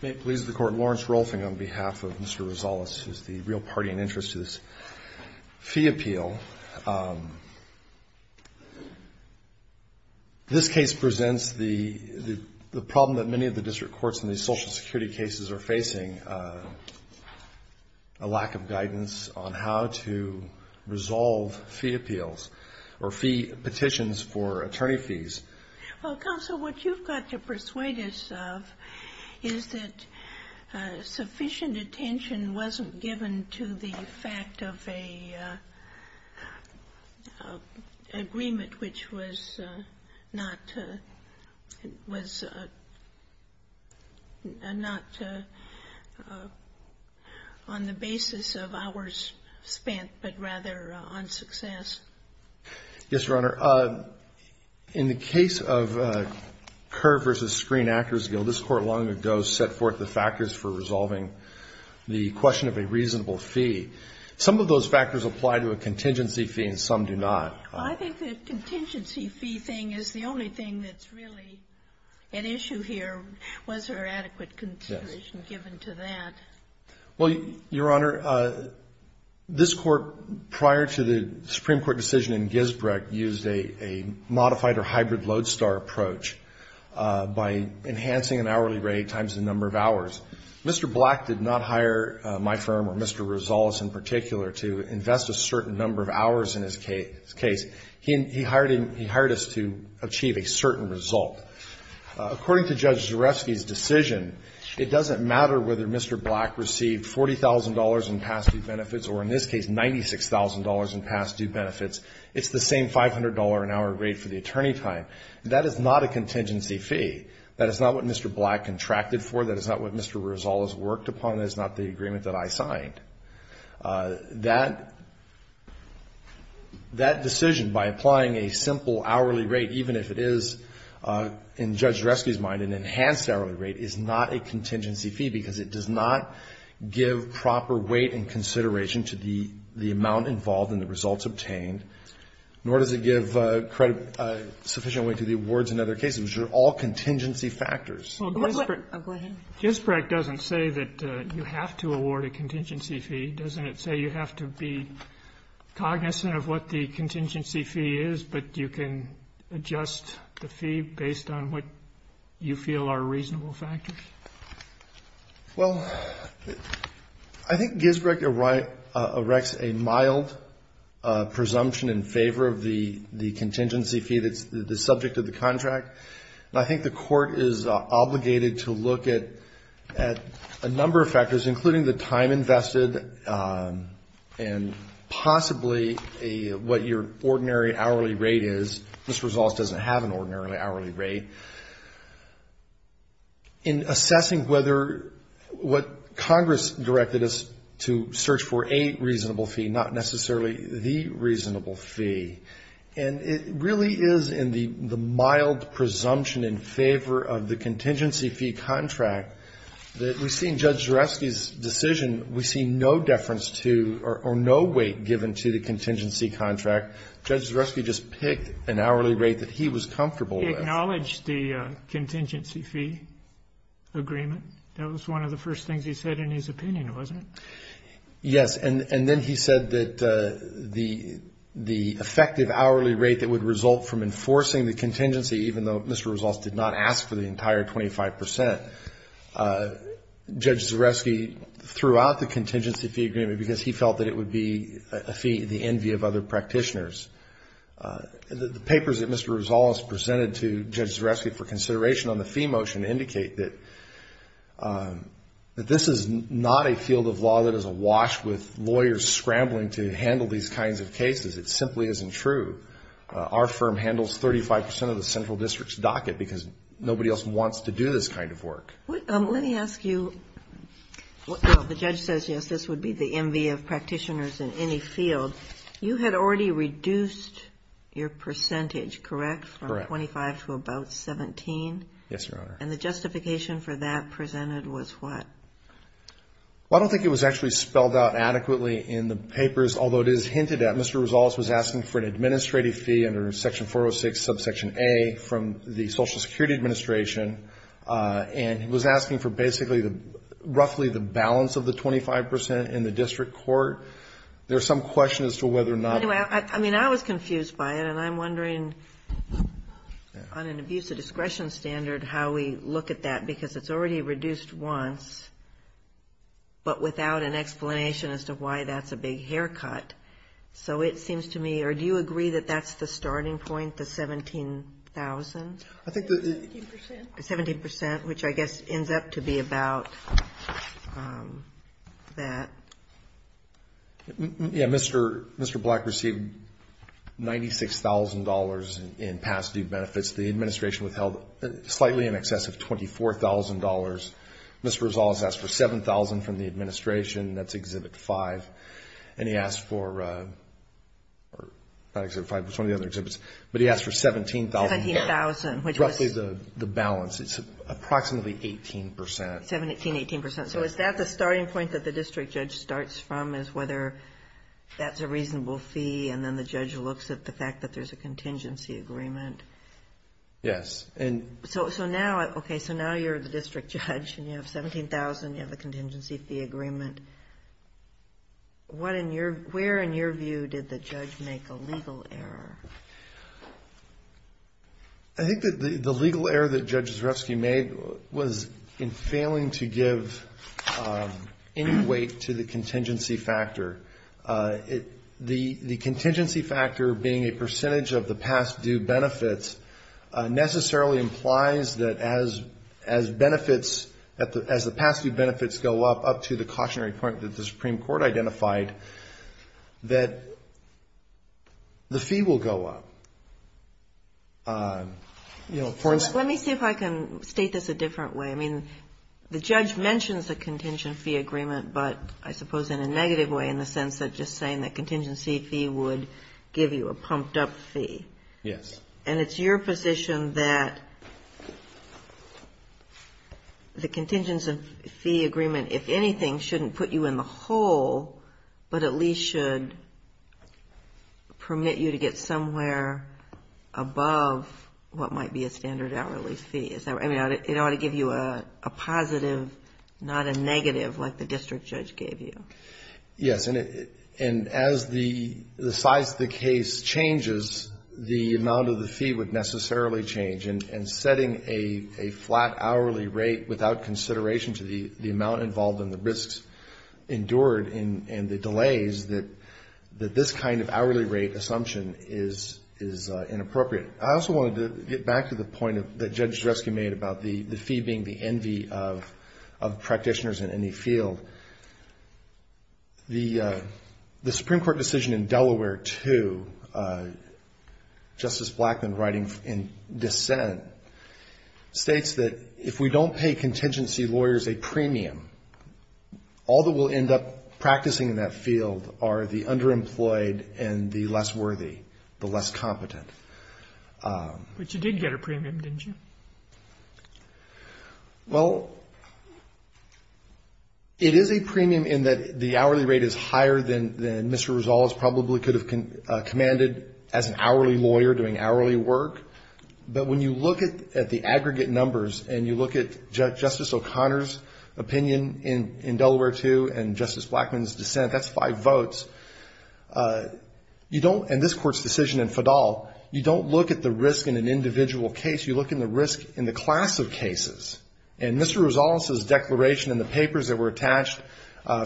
May it please the Court, Lawrence Rolfing, on behalf of Mr. Rosales, who is the real party in interest to this fee appeal. This case presents the problem that many of the district courts in these social security cases are facing, a lack of guidance on how to resolve fee appeals or fee petitions for attorney fees. Well, Counsel, what you've got to persuade us of is that sufficient attention wasn't given to the fact of an agreement which was not on the basis of hours spent, but rather on success. Yes, Your Honor. In the case of Kerr v. Screen Actors Guild, this Court long ago set forth the factors for resolving the question of a reasonable fee. Some of those factors apply to a contingency fee and some do not. Well, I think the contingency fee thing is the only thing that's really at issue here. Was there adequate consideration given to that? Well, Your Honor, this Court prior to the Supreme Court decision in Gisbrecht used a modified or hybrid lodestar approach by enhancing an hourly rate times the number of hours. Mr. Black did not hire my firm or Mr. Rosales in particular to invest a certain number of hours in his case. He hired us to achieve a certain result. According to Judge Zarefsky's decision, it doesn't matter whether Mr. Black received $40,000 in past due benefits or, in this case, $96,000 in past due benefits. It's the same $500 an hour rate for the attorney time. That is not a contingency fee. That is not what Mr. Black contracted for. That is not what Mr. Rosales worked upon. That is not the agreement that I signed. That decision, by applying a simple hourly rate, even if it is, in Judge Zarefsky's mind, an enhanced hourly rate, is not a contingency fee because it does not give proper weight and consideration to the amount involved in the results obtained, nor does it give sufficient weight to the awards and other cases, which are all contingency factors. Ginsburg doesn't say that you have to award a contingency fee. Doesn't it say you have to be cognizant of what the contingency fee is, but you can adjust the fee based on what you feel are reasonable factors? Well, I think Ginsburg erects a mild presumption in favor of the contingency fee that's the subject of the contract. And I think the court is obligated to look at a number of factors, including the time invested and possibly what your ordinary hourly rate is. Mr. Rosales doesn't have an ordinary hourly rate. In assessing whether what Congress directed us to search for a reasonable fee, not necessarily the reasonable fee, and it really is in the mild presumption in favor of the contingency fee contract that we see in Judge Zarefsky's decision, we see no deference to or no weight given to the contingency contract. Judge Zarefsky just picked an hourly rate that he was comfortable with. Did he acknowledge the contingency fee agreement? That was one of the first things he said in his opinion, wasn't it? Yes, and then he said that the effective hourly rate that would result from enforcing the contingency, even though Mr. Rosales did not ask for the entire 25 percent, Judge Zarefsky threw out the contingency fee agreement because he felt that it would be a fee in the envy of other practitioners. The papers that Mr. Rosales presented to Judge Zarefsky for consideration on the fee motion indicate that this is not a field of law that is awash with lawyers scrambling to handle these kinds of cases. It simply isn't true. Our firm handles 35 percent of the central district's docket because nobody else wants to do this kind of work. Let me ask you, the judge says yes, this would be the envy of practitioners in any field. You had already reduced your percentage, correct, from 25 to about 17? Yes, Your Honor. And the justification for that presented was what? Well, I don't think it was actually spelled out adequately in the papers, although it is hinted at. Mr. Rosales was asking for an administrative fee under section 406, subsection A from the Social Security Administration, and he was asking for basically roughly the balance of the 25 percent in the district court. There's some question as to whether or not. Anyway, I mean, I was confused by it, and I'm wondering on an abuse of discretion standard how we look at that, because it's already reduced once but without an explanation as to why that's a big haircut. So it seems to me, or do you agree that that's the starting point, the 17,000? I think the 17 percent, which I guess ends up to be about that. Yeah. Mr. Black received $96,000 in past due benefits. The Administration withheld slightly in excess of $24,000. Mr. Rosales asked for $7,000 from the Administration. That's Exhibit 5. And he asked for, not Exhibit 5, but some of the other exhibits, but he asked for $17,000. $17,000, which was? Roughly the balance. It's approximately 18 percent. 17, 18 percent. So is that the starting point that the district judge starts from is whether that's a reasonable fee, and then the judge looks at the fact that there's a contingency agreement? Yes. Okay, so now you're the district judge and you have $17,000, you have a contingency fee agreement. Where, in your view, did the judge make a legal error? I think that the legal error that Judge Zarefsky made was in failing to give any weight to the contingency factor. The contingency factor being a percentage of the past due benefits necessarily implies that as benefits, as the past due benefits go up, up to the cautionary point that the Supreme Court identified, that the fee will go up. Let me see if I can state this a different way. I mean, the judge mentions the contingency agreement, but I suppose in a negative way, in the sense of just saying that contingency fee would give you a pumped-up fee. Yes. And it's your position that the contingency fee agreement, if anything, shouldn't put you in the hole, but at least should permit you to get somewhere above what might be a standard hourly fee. I mean, it ought to give you a positive, not a negative like the district judge gave you. Yes, and as the size of the case changes, the amount of the fee would necessarily change, and setting a flat hourly rate without consideration to the amount involved in the risks endured and the delays, that this kind of hourly rate assumption is inappropriate. I also wanted to get back to the point that Judge Dreske made about the fee being the envy of practitioners in any field. The Supreme Court decision in Delaware 2, Justice Blackman writing in dissent, states that if we don't pay contingency lawyers a premium, all that we'll end up practicing in that field are the underemployed and the less worthy, the less competent. But you did get a premium, didn't you? Well, it is a premium in that the hourly rate is higher than Mr. Rezales probably could have commanded as an hourly lawyer doing hourly work, but when you look at the aggregate numbers and you look at Justice O'Connor's opinion in Delaware 2 and Justice Blackman's dissent, that's five votes, you don't, and this Court's decision in Fadal, you don't look at the risk in an individual case, you look at the risk in the class of cases. And Mr. Rezales' declaration in the papers that were attached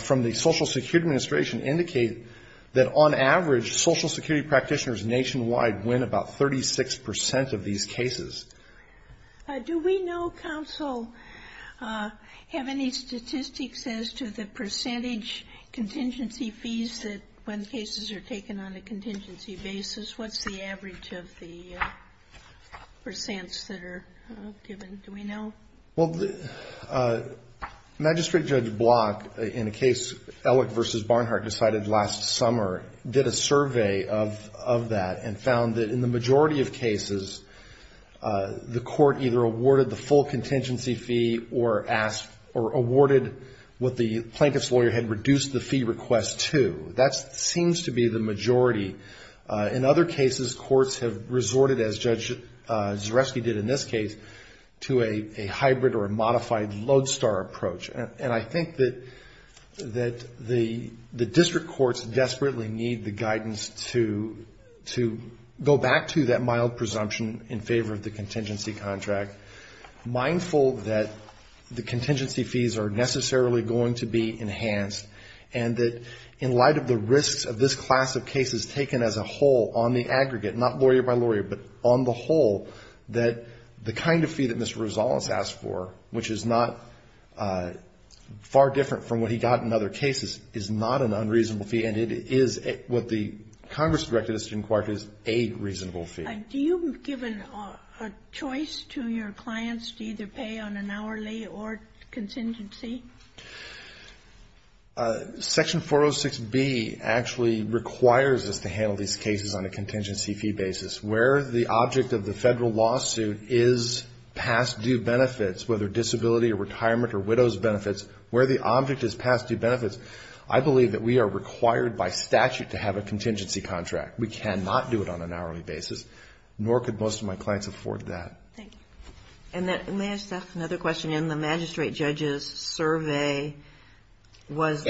from the Social Security Administration indicate that on average, Social Security practitioners nationwide win about 36 percent of these cases. Do we know, counsel, have any statistics as to the percentage contingency fees that when cases are taken on a contingency basis, what's the average of the percents that are given? Do we know? Well, Magistrate Judge Block, in a case Ellick v. Barnhart decided last summer, did a survey of that and found that in the majority of cases, the court either awarded the full contingency fee or awarded what the plaintiff's lawyer had reduced the fee request to. That seems to be the majority. In other cases, courts have resorted, as Judge Zareski did in this case, to a hybrid or a modified lodestar approach. And I think that the district courts desperately need the guidance to go back to that mild presumption in favor of the contingency fee. And I think that the district courts need to be mindful of the contingency contract, mindful that the contingency fees are necessarily going to be enhanced, and that in light of the risks of this class of cases taken as a whole on the aggregate, not lawyer by lawyer, but on the whole, that the kind of fee that Mr. Rezales asked for, which is not far different from what he got in other cases, is not an unreasonable fee, and it is what the Congress directed us to inquire to is a reasonable fee. Do you give a choice to your clients to either pay on an hourly or contingency? Section 406B actually requires us to handle these cases on a contingency fee basis. Where the object of the Federal lawsuit is past due benefits, whether disability or retirement or widow's benefits, where the object is past due benefits, I believe that we are required by statute to have a contingency contract. We cannot do it on an hourly basis, nor could most of my clients afford that. And may I ask another question? In the magistrate judge's survey, was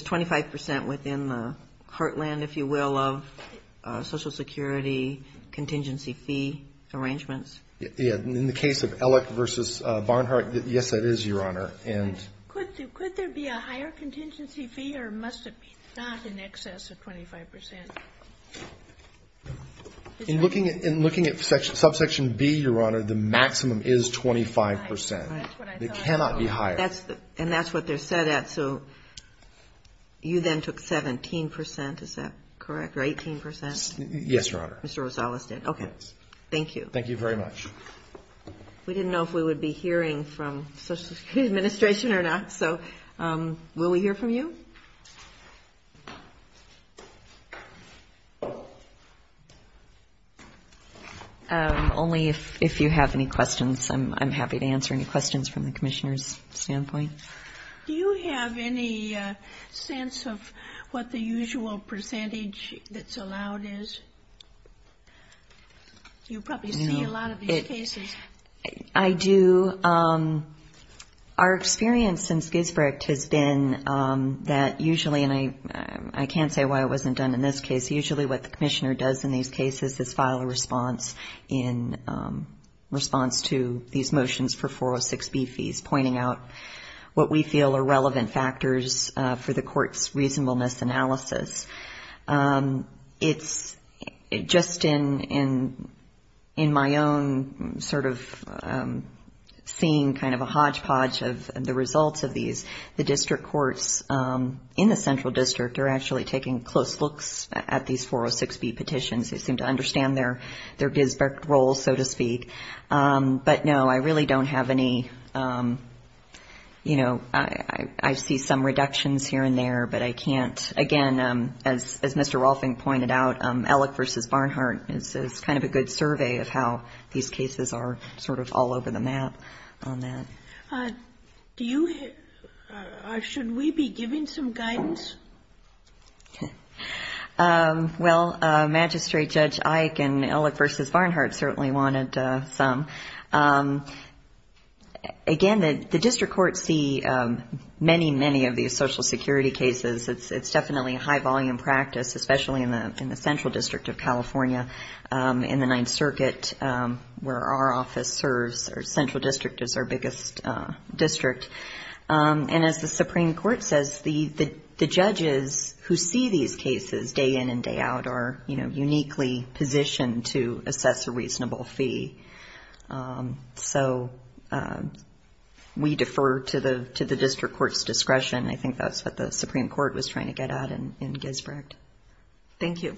25 percent within the heartland, if you will, of Social Security contingency fee arrangements? In the case of Ellick v. Barnhart, yes, that is, Your Honor. Could there be a higher contingency fee, or must it be not in excess of 25 percent? In looking at subsection B, Your Honor, the maximum is 25 percent. It cannot be higher. And that's what they're set at, so you then took 17 percent, is that correct, or 18 percent? Yes, Your Honor. Mr. Rezales did. Okay. Thank you. Thank you very much. We didn't know if we would be hearing from Social Security Administration or not, so will we hear from you? Only if you have any questions. I'm happy to answer any questions from the Commissioner's standpoint. Do you have any sense of what the usual percentage that's allowed is? You probably see a lot of these cases. I do. Our experience in Skisbrick has been that usually, and I can't say why it wasn't done in this case, usually what the Commissioner does in these cases is file a response in response to these motions for 406B fees, pointing out what we feel are relevant factors for the court's reasonableness analysis. It's just in my own sort of seeing kind of a hodgepodge of the results of these, the district courts in the Central District are actually taking close looks at these 406B petitions. They seem to understand their Gisbert role, so to speak, but no, I really don't have any, you know, I see some reductions here and there, but I can't, again, as Mr. Rolfing pointed out, Ellick v. Barnhart is kind of a good survey of how these cases are sort of all over the map on that. Do you, or should we be giving some guidance? Well, Magistrate Judge Eick and Ellick v. Barnhart certainly wanted some. Again, the district courts see many, many of these Social Security cases. It's definitely a high-volume practice, especially in the Central District of California, in the Ninth Circuit, where our office serves, our Central District is our biggest district. And as the Supreme Court says, the judges who see these cases day in and day out are, you know, so we defer to the district court's discretion. I think that's what the Supreme Court was trying to get at in Gisbert. Thank you.